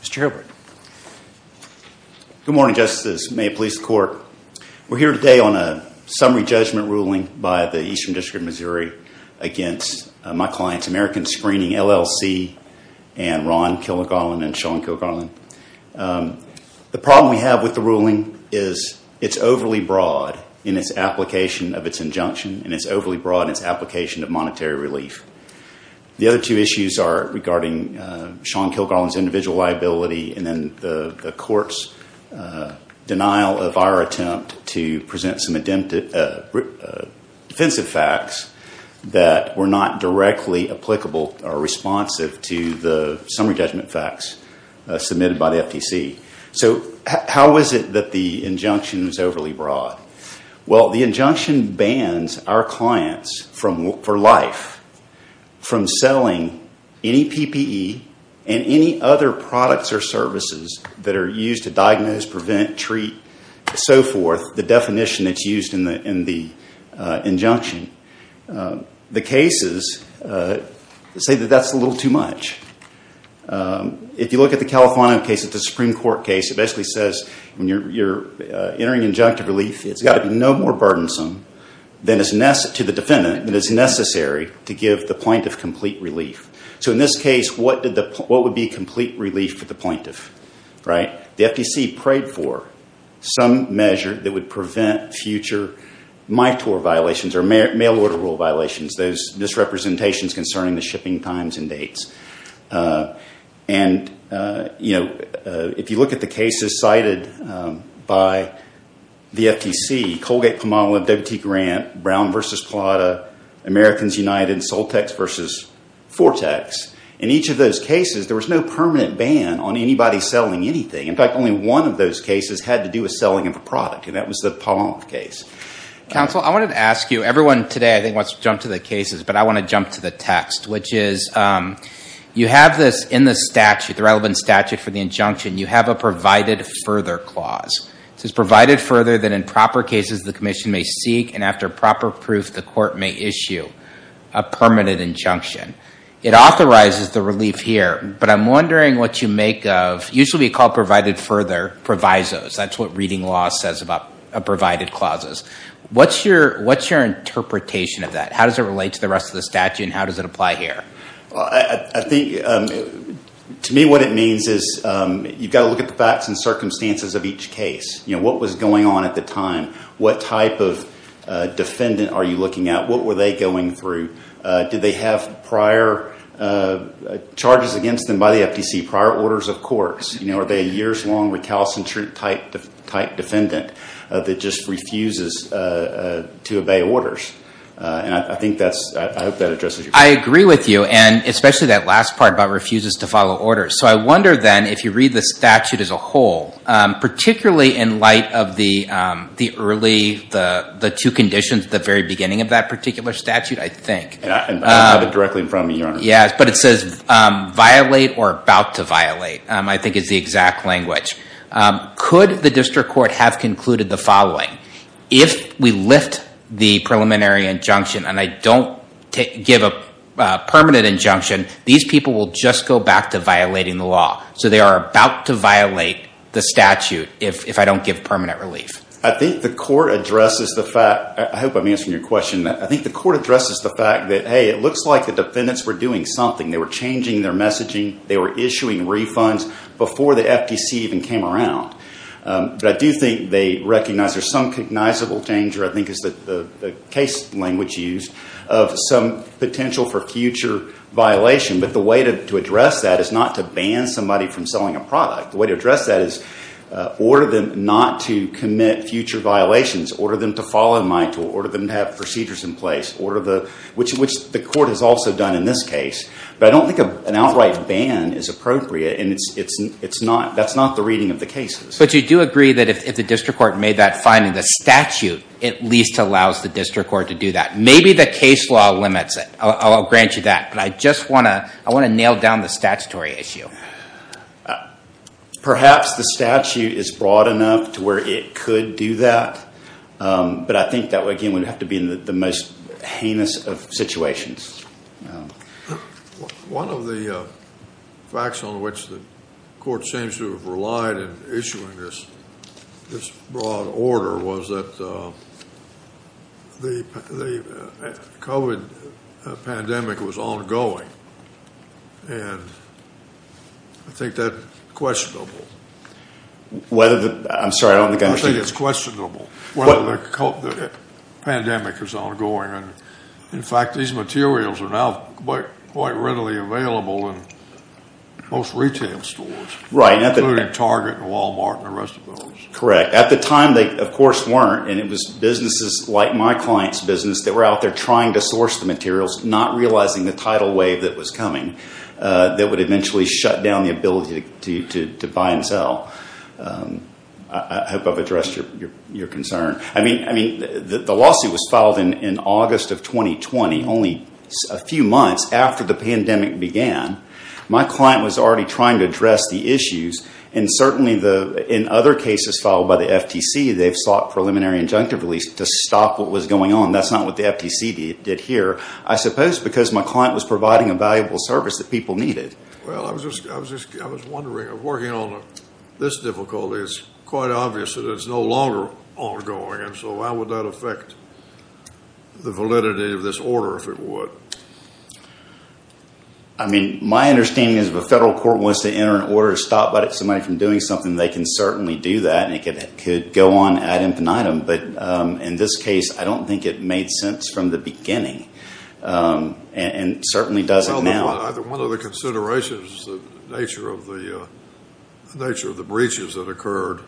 Mr. Hilbert. Good morning, Justices. May it please the Court. We're here today on a summary judgment ruling by the Eastern District of Missouri against my clients American Screening, LLC and Ron Kilgarlin and Sean Kilgarlin. The problem we have with the ruling is it's overly broad in its application of its injunction and it's overly broad in its application of monetary relief. The other two issues are regarding Sean Kilgarlin's individual liability and then the Court's denial of our attempt to present some defensive facts that were not directly applicable or responsive to the summary judgment facts submitted by the FTC. So how is it that the injunction is overly broad? Well, the injunction bans our clients for life from selling any PPE and any other products or services that are used to diagnose, prevent, treat, so forth, the definition that's used in the injunction. The cases say that that's a little too much. If you look at the Califano case, it's a Supreme Court case. It basically says when you're entering injunctive relief, it's got to be no more burdensome to the defendant than is necessary to give the plaintiff complete relief. So in this case, what would be complete relief for the plaintiff? The FTC prayed for some measure that would prevent future MITOR violations or mail-order rule violations, those misrepresentations concerning the shipping times and dates. And if you look at the cases cited by the FTC, Colgate-Palmolive-W.T. Grant, Brown v. Plata, Americans United, Soltex v. Fortex, in each of those cases, there was no permanent ban on anybody selling anything. In fact, only one of those cases had to do with selling of a product, and that was the Palmolive case. Counsel, I wanted to ask you, everyone today I think wants to jump to the cases, but I want to jump to the text, which is you have this in the statute, the relevant statute for the injunction, you have a provided further clause. It says provided further that in proper cases the commission may seek, and after proper proof the court may issue a permanent injunction. It authorizes the relief here, but I'm wondering what you make of, usually called provided further, provisos. That's what reading law says about provided clauses. What's your interpretation of that? How does it relate to the rest of the statute, and how does it apply here? To me what it means is you've got to look at the facts and circumstances of each case. What was going on at the time? What type of defendant are you looking at? What were they going through? Did they have prior charges against them by the FTC, prior orders of courts? Are they a years-long recalcitrant type defendant that just refuses to obey orders? I hope that addresses your question. I agree with you, and especially that last part about refuses to follow orders. So I wonder then if you read the statute as a whole, particularly in light of the two conditions at the very beginning of that particular statute, I think. I have it directly in front of me, Your Honor. Yes, but it says violate or about to violate, I think is the exact language. Could the district court have concluded the following? If we lift the preliminary injunction and I don't give a permanent injunction, these people will just go back to violating the law. So they are about to violate the statute if I don't give permanent relief. I think the court addresses the fact—I hope I'm answering your question. I think the court addresses the fact that, hey, it looks like the defendants were doing something. They were changing their messaging. They were issuing refunds before the FTC even came around. But I do think they recognize there's some cognizable danger, I think is the case language used, of some potential for future violation. But the way to address that is not to ban somebody from selling a product. The way to address that is order them not to commit future violations. Order them to follow my tool. Order them to have procedures in place, which the court has also done in this case. But I don't think an outright ban is appropriate, and that's not the reading of the cases. But you do agree that if the district court made that finding, the statute at least allows the district court to do that. Maybe the case law limits it. I'll grant you that. But I just want to nail down the statutory issue. Perhaps the statute is broad enough to where it could do that. But I think that, again, would have to be in the most heinous of situations. One of the facts on which the court seems to have relied in issuing this broad order was that the COVID pandemic was ongoing. I'm sorry, I don't think I understood. I think it's questionable whether the pandemic is ongoing. In fact, these materials are now quite readily available in most retail stores, including Target and Walmart and the rest of those. Correct. At the time, they, of course, weren't. And it was businesses like my client's business that were out there trying to source the materials, not realizing the tidal wave that was coming that would eventually shut down the ability to buy and sell. I hope I've addressed your concern. I mean, the lawsuit was filed in August of 2020, only a few months after the pandemic began. My client was already trying to address the issues. And certainly in other cases filed by the FTC, they've sought preliminary injunctive release to stop what was going on. That's not what the FTC did here. I suppose because my client was providing a valuable service that people needed. Well, I was just wondering. Working on this difficulty, it's quite obvious that it's no longer ongoing. And so how would that affect the validity of this order, if it would? I mean, my understanding is if a federal court wants to enter an order to stop somebody from doing something, they can certainly do that, and it could go on ad infinitum. But in this case, I don't think it made sense from the beginning and certainly doesn't now. Well, one of the considerations is the nature of the breaches that occurred.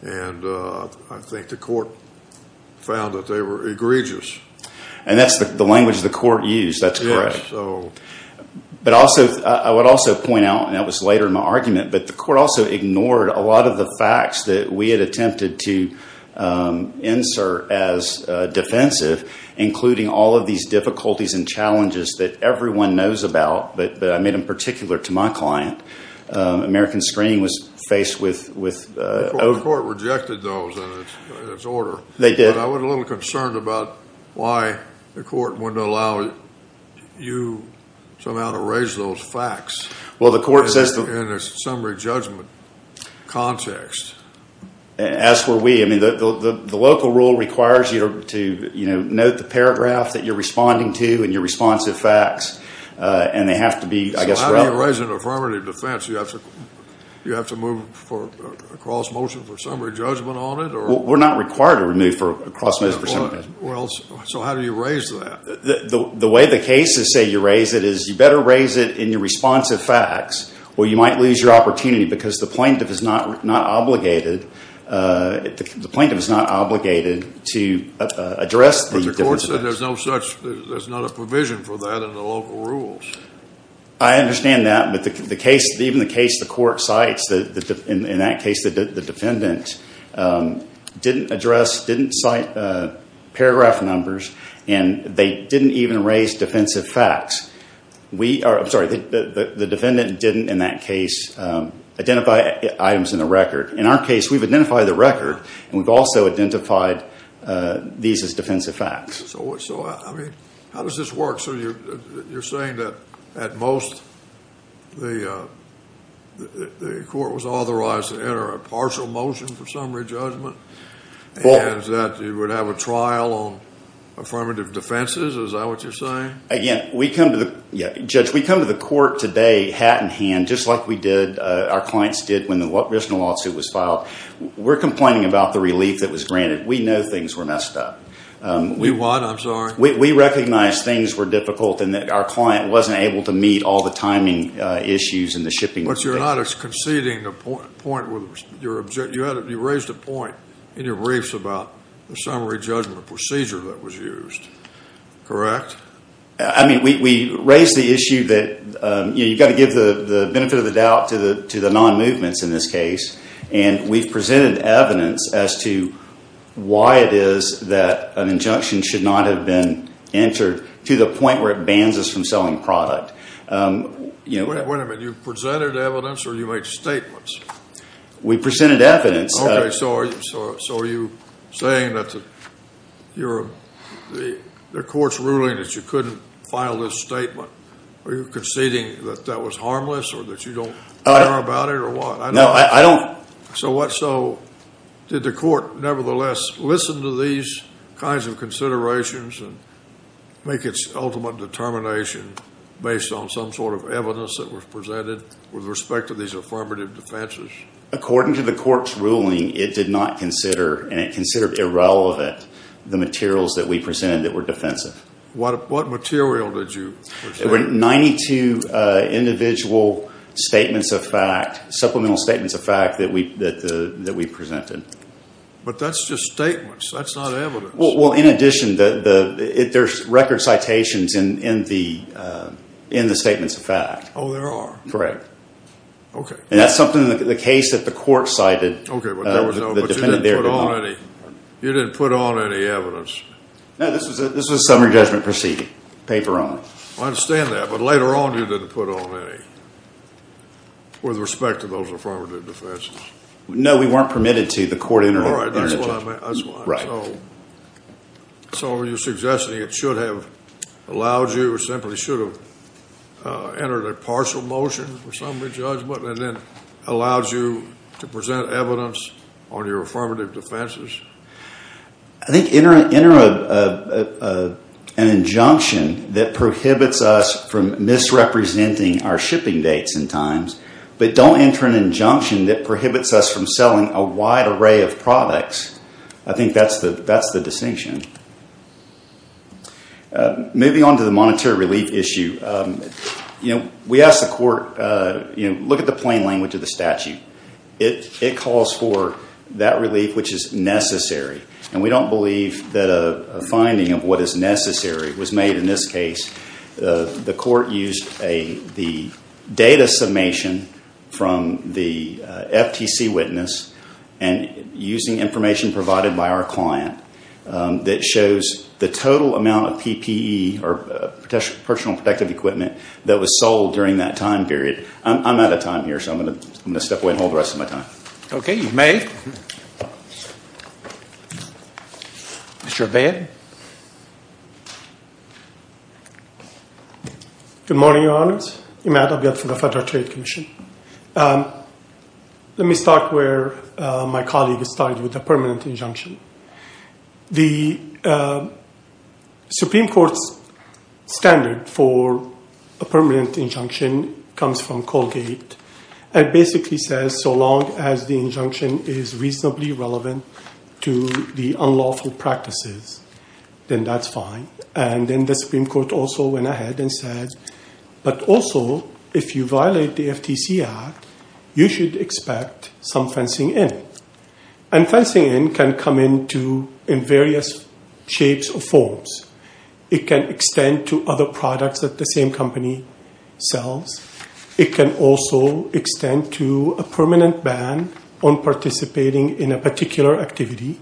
And I think the court found that they were egregious. And that's the language the court used. That's correct. But also, I would also point out, and that was later in my argument, but the court also ignored a lot of the facts that we had attempted to insert as defensive, including all of these difficulties and challenges that everyone knows about, but I made them particular to my client. American Screening was faced with ‑‑ The court rejected those in its order. They did. But I was a little concerned about why the court wouldn't allow you somehow to raise those facts. In a summary judgment context. As were we. I mean, the local rule requires you to note the paragraph that you're responding to and your responsive facts, and they have to be, I guess ‑‑ So how do you raise an affirmative defense? Do you have to move a cross motion for summary judgment on it? We're not required to move a cross motion for summary judgment. So how do you raise that? The way the cases say you raise it is you better raise it in your responsive facts or you might lose your opportunity because the plaintiff is not obligated to address the different facts. But the court said there's no such ‑‑ there's not a provision for that in the local rules. I understand that, but even the case the court cites, in that case the defendant didn't address, didn't cite paragraph numbers and they didn't even raise defensive facts. I'm sorry, the defendant didn't in that case identify items in the record. In our case we've identified the record and we've also identified these as defensive facts. So how does this work? So you're saying that at most the court was authorized to enter a partial motion for summary judgment? And that you would have a trial on affirmative defenses? Is that what you're saying? Again, we come to the ‑‑ judge, we come to the court today hat in hand just like we did, our clients did when the original lawsuit was filed. We're complaining about the relief that was granted. We know things were messed up. We what? I'm sorry. We recognized things were difficult and that our client wasn't able to meet all the timing issues and the shipping. But you're not conceding the point with your ‑‑ you raised a point in your briefs about the summary judgment procedure that was used. Correct? I mean, we raised the issue that, you know, you've got to give the benefit of the doubt to the non‑movements in this case. And we've presented evidence as to why it is that an injunction should not have been entered to the point where it bans us from selling product. Wait a minute. You presented evidence or you made statements? We presented evidence. Okay. So are you saying that the court's ruling that you couldn't file this statement? Are you conceding that that was harmless or that you don't care about it or what? No, I don't. So what? So did the court nevertheless listen to these kinds of considerations and make its ultimate determination based on some sort of evidence that was presented with respect to these affirmative defenses? According to the court's ruling, it did not consider, and it considered irrelevant the materials that we presented that were defensive. What material did you present? There were 92 individual statements of fact, supplemental statements of fact, that we presented. But that's just statements. That's not evidence. Well, in addition, there's record citations in the statements of fact. Oh, there are? Correct. Okay. And that's something in the case that the court cited. Okay. But you didn't put on any evidence? No, this was a summary judgment proceeding, paper only. I understand that, but later on you didn't put on any with respect to those affirmative defenses? No, we weren't permitted to. The court interrupted. All right, that's what I meant. So are you suggesting it should have allowed you, or simply should have entered a partial motion for summary judgment and then allowed you to present evidence on your affirmative defenses? I think enter an injunction that prohibits us from misrepresenting our shipping dates and times, but don't enter an injunction that prohibits us from selling a wide array of products. I think that's the distinction. Moving on to the monetary relief issue, we asked the court, look at the plain language of the statute. It calls for that relief which is necessary, and we don't believe that a finding of what is necessary was made in this case. The court used the data summation from the FTC witness and using information provided by our client that shows the total amount of PPE, or personal protective equipment, that was sold during that time period. I'm out of time here, so I'm going to step away and hold the rest of my time. Okay, you may. Mr. Abay. Good morning, Your Honors. Imad Abay from the Federal Trade Commission. Let me start where my colleague started with the permanent injunction. The Supreme Court's standard for a permanent injunction comes from Colgate, and basically says so long as the injunction is reasonably relevant to the unlawful practices, then that's fine. Then the Supreme Court also went ahead and said, but also if you violate the FTC Act, you should expect some fencing in. Fencing in can come in various shapes or forms. It can extend to other products that the same company sells. It can also extend to a permanent ban on participating in a particular activity.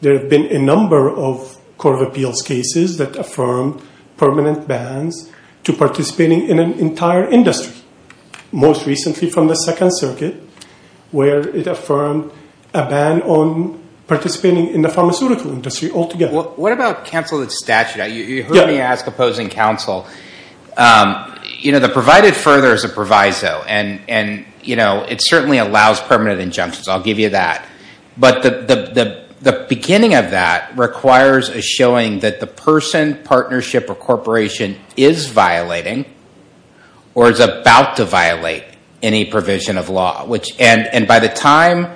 There have been a number of Court of Appeals cases that affirm permanent bans to participating in an entire industry. Most recently from the Second Circuit, where it affirmed a ban on participating in the pharmaceutical industry altogether. What about counseled statute? You heard me ask opposing counsel. The provided further is a proviso, and it certainly allows permanent injunctions. I'll give you that. But the beginning of that requires a showing that the person, partnership, or corporation is violating, or is about to violate any provision of law. By the time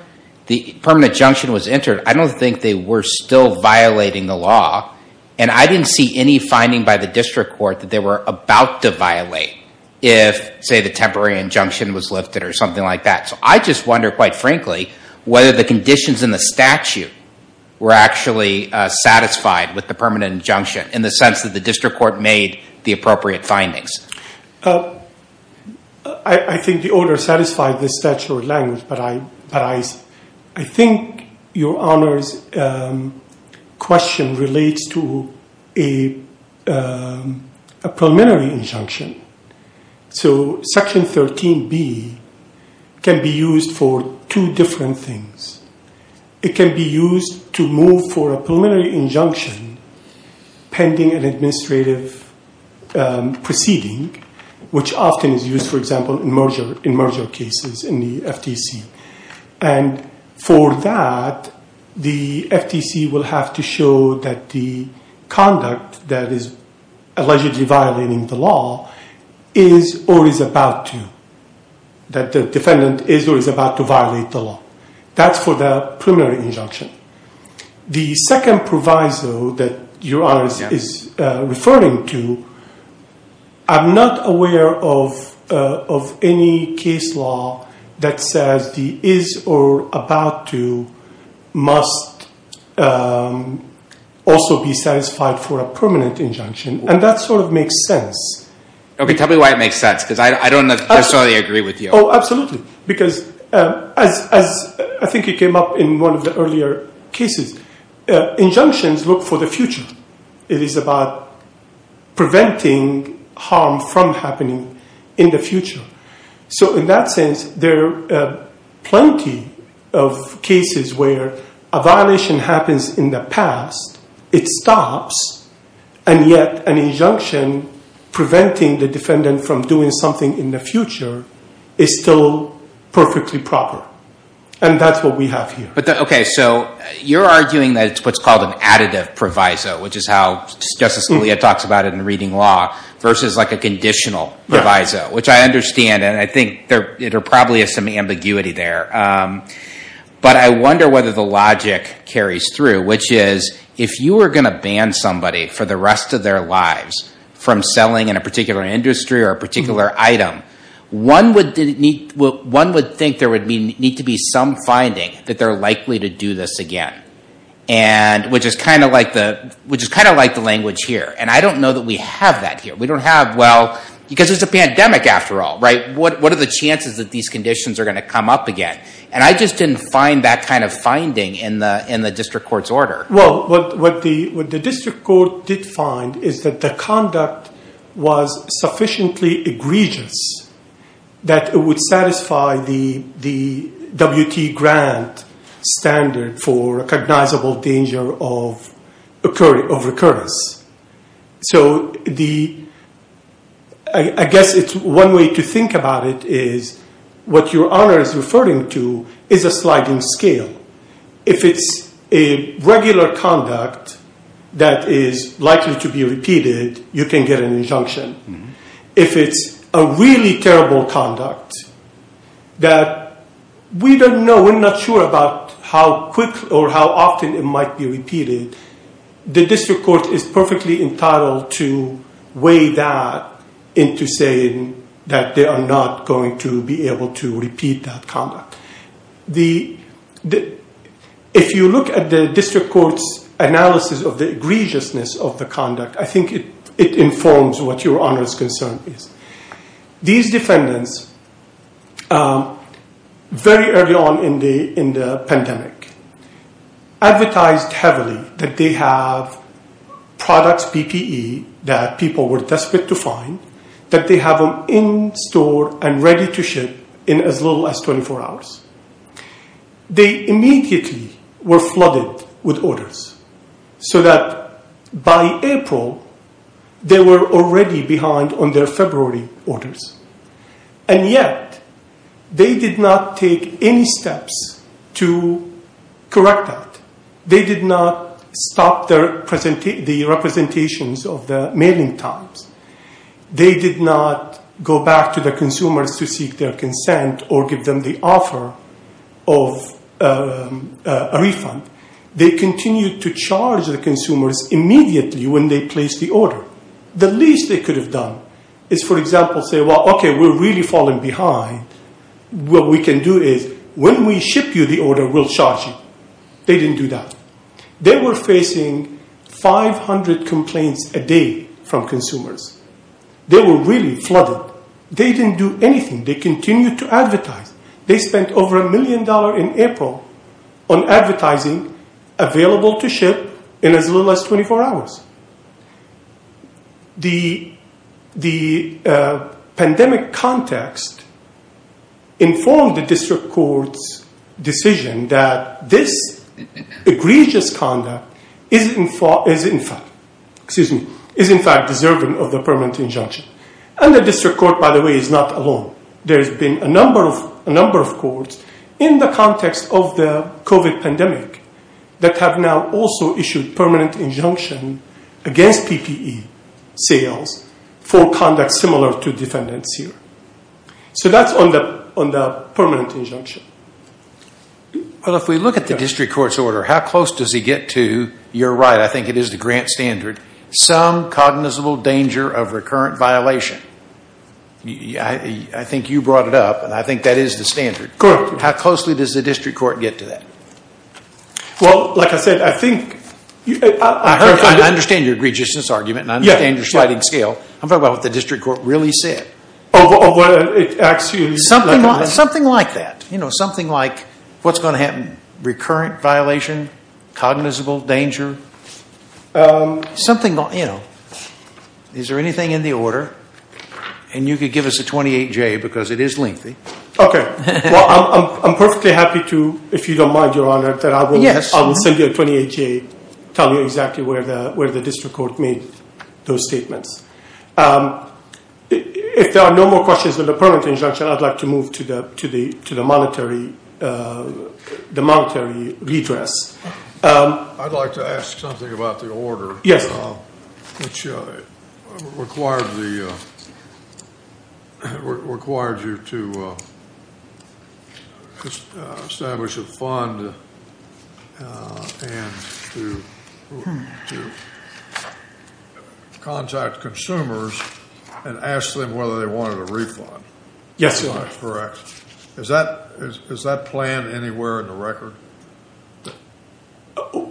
the permanent injunction was entered, I don't think they were still violating the law. And I didn't see any finding by the district court that they were about to violate if, say, the temporary injunction was lifted or something like that. So I just wonder, quite frankly, whether the conditions in the statute were actually satisfied with the permanent injunction, in the sense that the district court made the appropriate findings. I think the order satisfied the statute language, but I think your Honor's question relates to a preliminary injunction. So Section 13B can be used for two different things. It can be used to move for a preliminary injunction pending an administrative proceeding, which often is used, for example, in merger cases in the FTC. And for that, the FTC will have to show that the conduct that is allegedly violating the law is or is about to, that the defendant is or is about to violate the law. That's for the preliminary injunction. The second proviso that your Honor is referring to, I'm not aware of any case law that says the is or about to must also be satisfied for a permanent injunction. And that sort of makes sense. Okay, tell me why it makes sense, because I don't necessarily agree with you. Oh, absolutely. Because as I think it came up in one of the earlier cases, injunctions look for the future. It is about preventing harm from happening in the future. So in that sense, there are plenty of cases where a violation happens in the past, it stops, and yet an injunction preventing the defendant from doing something in the future is still perfectly proper. And that's what we have here. Okay, so you're arguing that it's what's called an additive proviso, which is how Justice Scalia talks about it in reading law, versus like a conditional proviso, which I understand, and I think there probably is some ambiguity there. But I wonder whether the logic carries through, which is if you were going to ban somebody for the rest of their lives from selling in a particular industry or a particular item, one would think there would need to be some finding that they're likely to do this again, which is kind of like the language here. And I don't know that we have that here. We don't have, well, because it's a pandemic after all, right? What are the chances that these conditions are going to come up again? And I just didn't find that kind of finding in the district court's order. Well, what the district court did find is that the conduct was sufficiently egregious that it would satisfy the WT grant standard for recognizable danger of recurrence. So I guess it's one way to think about it is what your honor is referring to is a sliding scale. If it's a regular conduct that is likely to be repeated, you can get an injunction. If it's a really terrible conduct that we don't know, we're not sure about how quick or how often it might be repeated, the district court is perfectly entitled to weigh that into saying that they are not going to be able to repeat that conduct. If you look at the district court's analysis of the egregiousness of the conduct, I think it informs what your honor's concern is. These defendants, very early on in the pandemic, advertised heavily that they have products, PPE, that people were desperate to find, that they have them in store and ready to ship in as little as 24 hours. They immediately were flooded with orders so that by April, they were already behind on their February orders. And yet, they did not take any steps to correct that. They did not stop the representations of the mailing times. They did not go back to the consumers to seek their consent or give them the offer of a refund. They continued to charge the consumers immediately when they placed the order. The least they could have done is, for example, say, well, okay, we're really falling behind. What we can do is when we ship you the order, we'll charge you. They didn't do that. They were facing 500 complaints a day from consumers. They were really flooded. They didn't do anything. They continued to advertise. They spent over a million dollars in April on advertising available to ship in as little as 24 hours. The pandemic context informed the district court's decision that this egregious conduct is in fact deserving of the permanent injunction. And the district court, by the way, is not alone. There's been a number of courts in the context of the COVID pandemic that have now also issued permanent injunction against PPE sales for conduct similar to defendants here. So that's on the permanent injunction. Well, if we look at the district court's order, how close does he get to, you're right, I think it is the grant standard, some cognizable danger of recurrent violation? I think you brought it up, and I think that is the standard. Correct. How closely does the district court get to that? Well, like I said, I think… I understand your egregiousness argument, and I understand your sliding scale. I'm talking about what the district court really said. Of what it actually… Something like that. You know, something like, what's going to happen? Recurrent violation? Cognizable danger? Something, you know, is there anything in the order? And you could give us a 28-J because it is lengthy. Okay. Well, I'm perfectly happy to, if you don't mind, Your Honor, that I will send you a 28-J, tell you exactly where the district court made those statements. If there are no more questions on the permanent injunction, I'd like to move to the monetary redress. I'd like to ask something about the order. Yes. Which required you to establish a fund and to contact consumers and ask them whether they wanted a refund. Yes, Your Honor. Is that correct?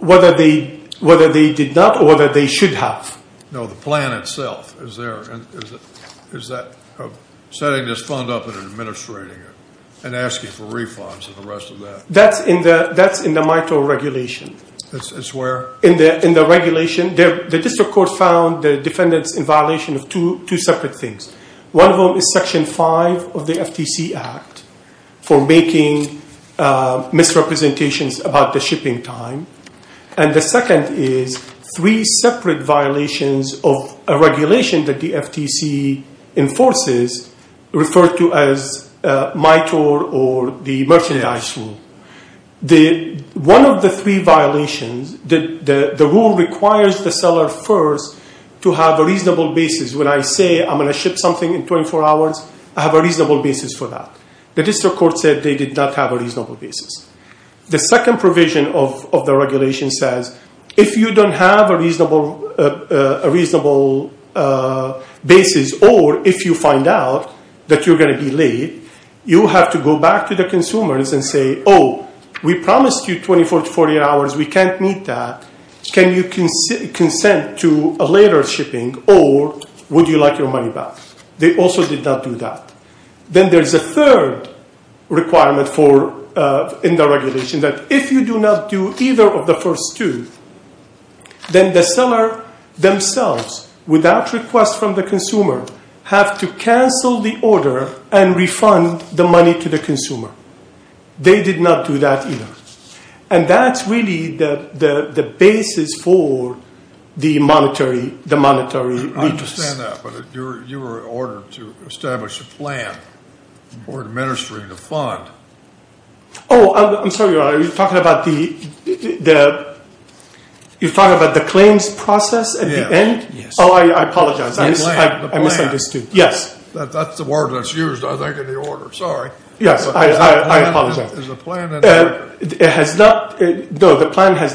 Whether they did not or whether they should have. No, the plan itself. Is that setting this fund up and administrating it and asking for refunds and the rest of that? That's in the MITRE regulation. It's where? In the regulation. The district court found the defendants in violation of two separate things. One of them is Section 5 of the FTC Act for making misrepresentations about the shipping time. And the second is three separate violations of a regulation that the FTC enforces referred to as MITRE or the merchandise rule. One of the three violations, the rule requires the seller first to have a reasonable basis. When I say I'm going to ship something in 24 hours, I have a reasonable basis for that. The district court said they did not have a reasonable basis. The second provision of the regulation says if you don't have a reasonable basis or if you find out that you're going to be late, you have to go back to the consumers and say, oh, we promised you 24 to 48 hours. We can't meet that. Can you consent to a later shipping or would you like your money back? They also did not do that. Then there's a third requirement in the regulation that if you do not do either of the first two, then the seller themselves, without request from the consumer, have to cancel the order and refund the money to the consumer. They did not do that either. And that's really the basis for the monetary interest. I understand that, but you were ordered to establish a plan for administering the fund. Oh, I'm sorry, you're talking about the claims process at the end? Yes. Oh, I apologize. The plan. I misunderstood. Yes. That's the word that's used, I think, in the order. Sorry. Yes, I apologize. Is the plan in there? All right, that's fine. I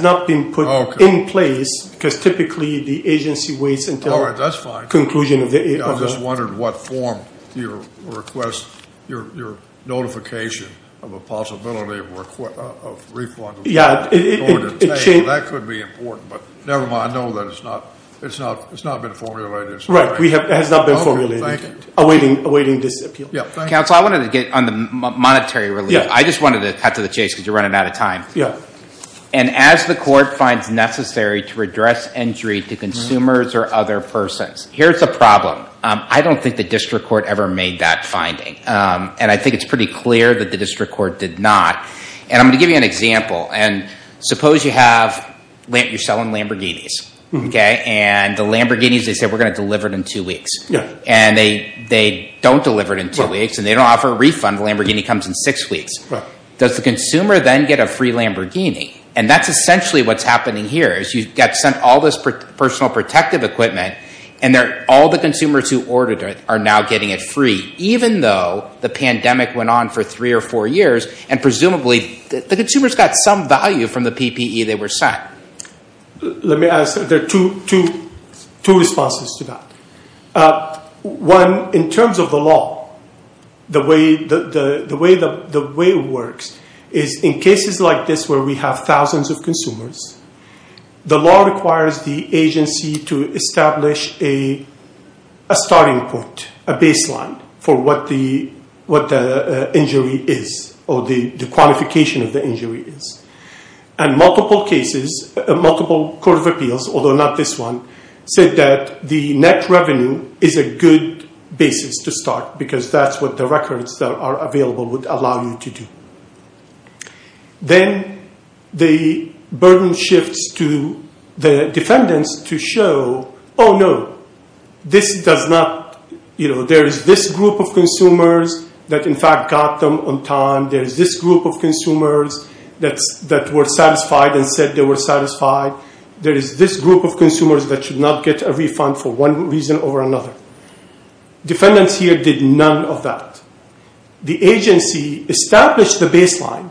just wondered what form your notification of a possibility of refund was going to take. That could be important, but never mind. I know that it's not been formulated. Right, it has not been formulated. Awaiting disappeal. Yes, thank you. Counsel, I wanted to get on the monetary relief. I just wanted to add to the chase because you're running out of time. Yes. And as the court finds necessary to redress injury to consumers or other persons. Here's the problem. I don't think the district court ever made that finding. And I think it's pretty clear that the district court did not. And I'm going to give you an example. And suppose you're selling Lamborghinis. And the Lamborghinis, they say, we're going to deliver it in two weeks. And they don't deliver it in two weeks. And they don't offer a refund. The Lamborghini comes in six weeks. Does the consumer then get a free Lamborghini? And that's essentially what's happening here. You've got to send all this personal protective equipment. And all the consumers who ordered it are now getting it free. Even though the pandemic went on for three or four years. And presumably the consumer's got some value from the PPE they were sent. Let me ask. There are two responses to that. One, in terms of the law. The way it works is in cases like this where we have thousands of consumers, the law requires the agency to establish a starting point, a baseline, for what the injury is or the quantification of the injury is. And multiple cases, multiple court of appeals, although not this one, said that the net revenue is a good basis to start because that's what the records that are available would allow you to do. Then the burden shifts to the defendants to show, oh, no, this does not, you know, there is this group of consumers that, in fact, got them on time. There is this group of consumers that were satisfied and said they were satisfied. There is this group of consumers that should not get a refund for one reason or another. Defendants here did none of that. The agency established the baseline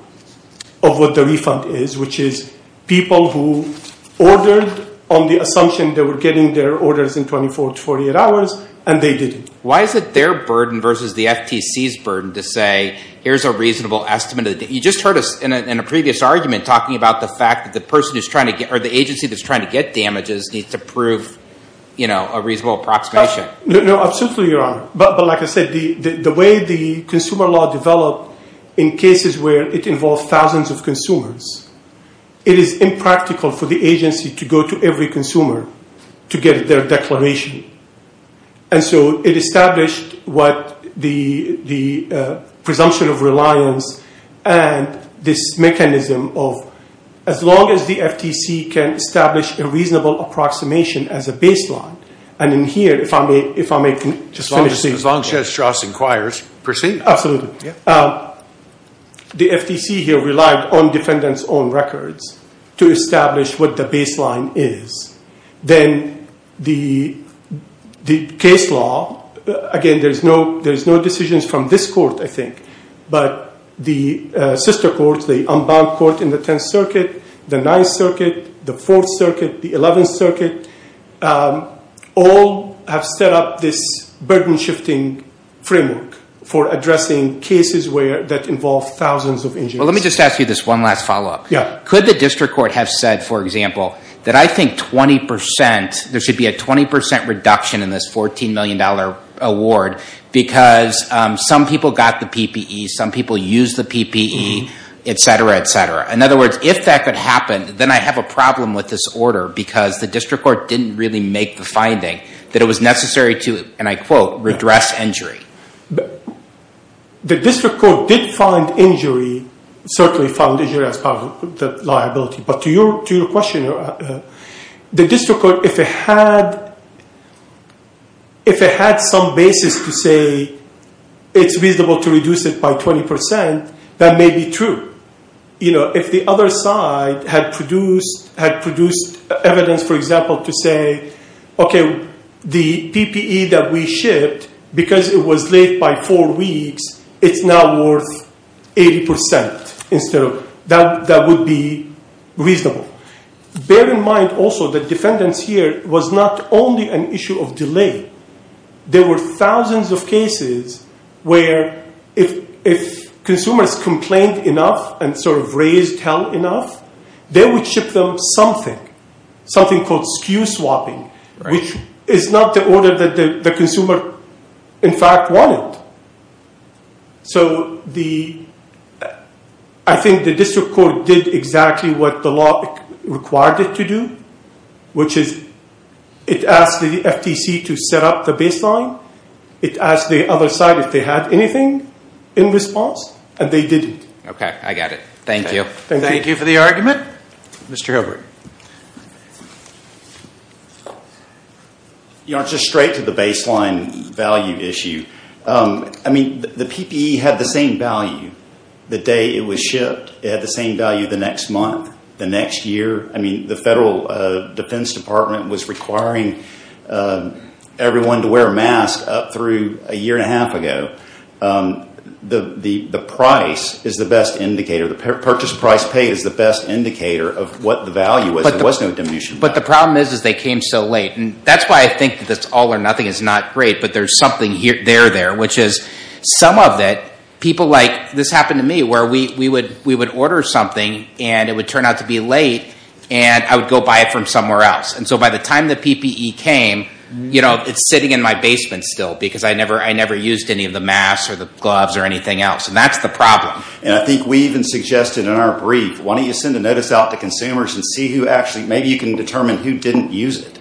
of what the refund is, which is people who ordered on the assumption they were getting their orders in 24 to 48 hours, and they didn't. Why is it their burden versus the FTC's burden to say here's a reasonable estimate? You just heard us in a previous argument talking about the fact that the person who's trying to get or the agency that's trying to get damages needs to prove, you know, a reasonable approximation. No, absolutely, Your Honor. But like I said, the way the consumer law developed in cases where it involved thousands of consumers, it is impractical for the agency to go to every consumer to get their declaration. And so it established what the presumption of reliance and this mechanism of as long as the FTC can establish a reasonable approximation as a baseline, and in here, if I may just finish saying that. As long as Judge Strauss inquires, proceed. Absolutely. The FTC here relied on defendants' own records to establish what the baseline is. Then the case law, again, there's no decisions from this court, I think, but the sister courts, the unbound court in the 10th Circuit, the 9th Circuit, the 4th Circuit, the 11th Circuit, all have set up this burden-shifting framework for addressing cases that involve thousands of injuries. Well, let me just ask you this one last follow-up. Yeah. Could the district court have said, for example, that I think 20 percent, there should be a 20 percent reduction in this $14 million award because some people got the PPE, some people used the PPE, et cetera, et cetera. In other words, if that could happen, then I have a problem with this order because the district court didn't really make the finding that it was necessary to, and I quote, redress injury. The district court did find injury, certainly found injury as part of the liability, but to your question, the district court, if it had some basis to say it's reasonable to reduce it by 20 percent, that may be true. If the other side had produced evidence, for example, to say, okay, the PPE that we shipped, because it was late by four weeks, it's now worth 80 percent. That would be reasonable. Bear in mind also that defendants here was not only an issue of delay. There were thousands of cases where if consumers complained enough and sort of raised hell enough, they would ship them something, something called SKU swapping, which is not the order that the consumer in fact wanted. So I think the district court did exactly what the law required it to do, which is it asked the FTC to set up the baseline. It asked the other side if they had anything in response, and they didn't. Okay, I got it. Thank you. Thank you for the argument. Mr. Hilbert. You know, just straight to the baseline value issue, I mean, the PPE had the same value the day it was shipped. It had the same value the next month, the next year. I mean, the Federal Defense Department was requiring everyone to wear a mask up through a year and a half ago. The price is the best indicator. The purchase price paid is the best indicator of what the value was. There was no diminution. But the problem is is they came so late. And that's why I think this all or nothing is not great, but there's something there there, which is some of it people like this happened to me where we would order something, and it would turn out to be late, and I would go buy it from somewhere else. And so by the time the PPE came, you know, it's sitting in my basement still because I never used any of the masks or the gloves or anything else, and that's the problem. And I think we even suggested in our brief, why don't you send a notice out to consumers and see who actually, maybe you can determine who didn't use it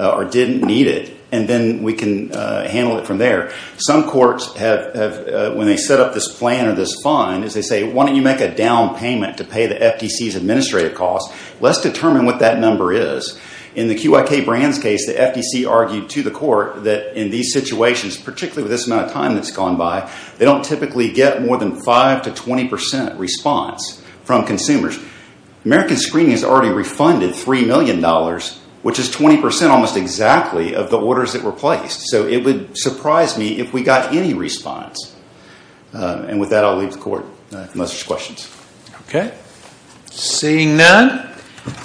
or didn't need it, and then we can handle it from there. Some courts have, when they set up this plan or this fund, they say, why don't you make a down payment to pay the FDC's administrative costs. Let's determine what that number is. In the QIK Brands case, the FDC argued to the court that in these situations, particularly with this amount of time that's gone by, they don't typically get more than 5% to 20% response from consumers. American Screening has already refunded $3 million, which is 20% almost exactly of the orders that were placed. So it would surprise me if we got any response. And with that, I'll leave the court unless there's questions. Okay. Seeing none,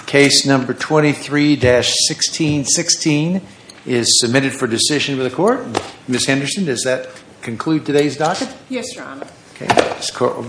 case number 23-1616 is submitted for decision of the court. Ms. Henderson, does that conclude today's docket? Yes, Your Honor.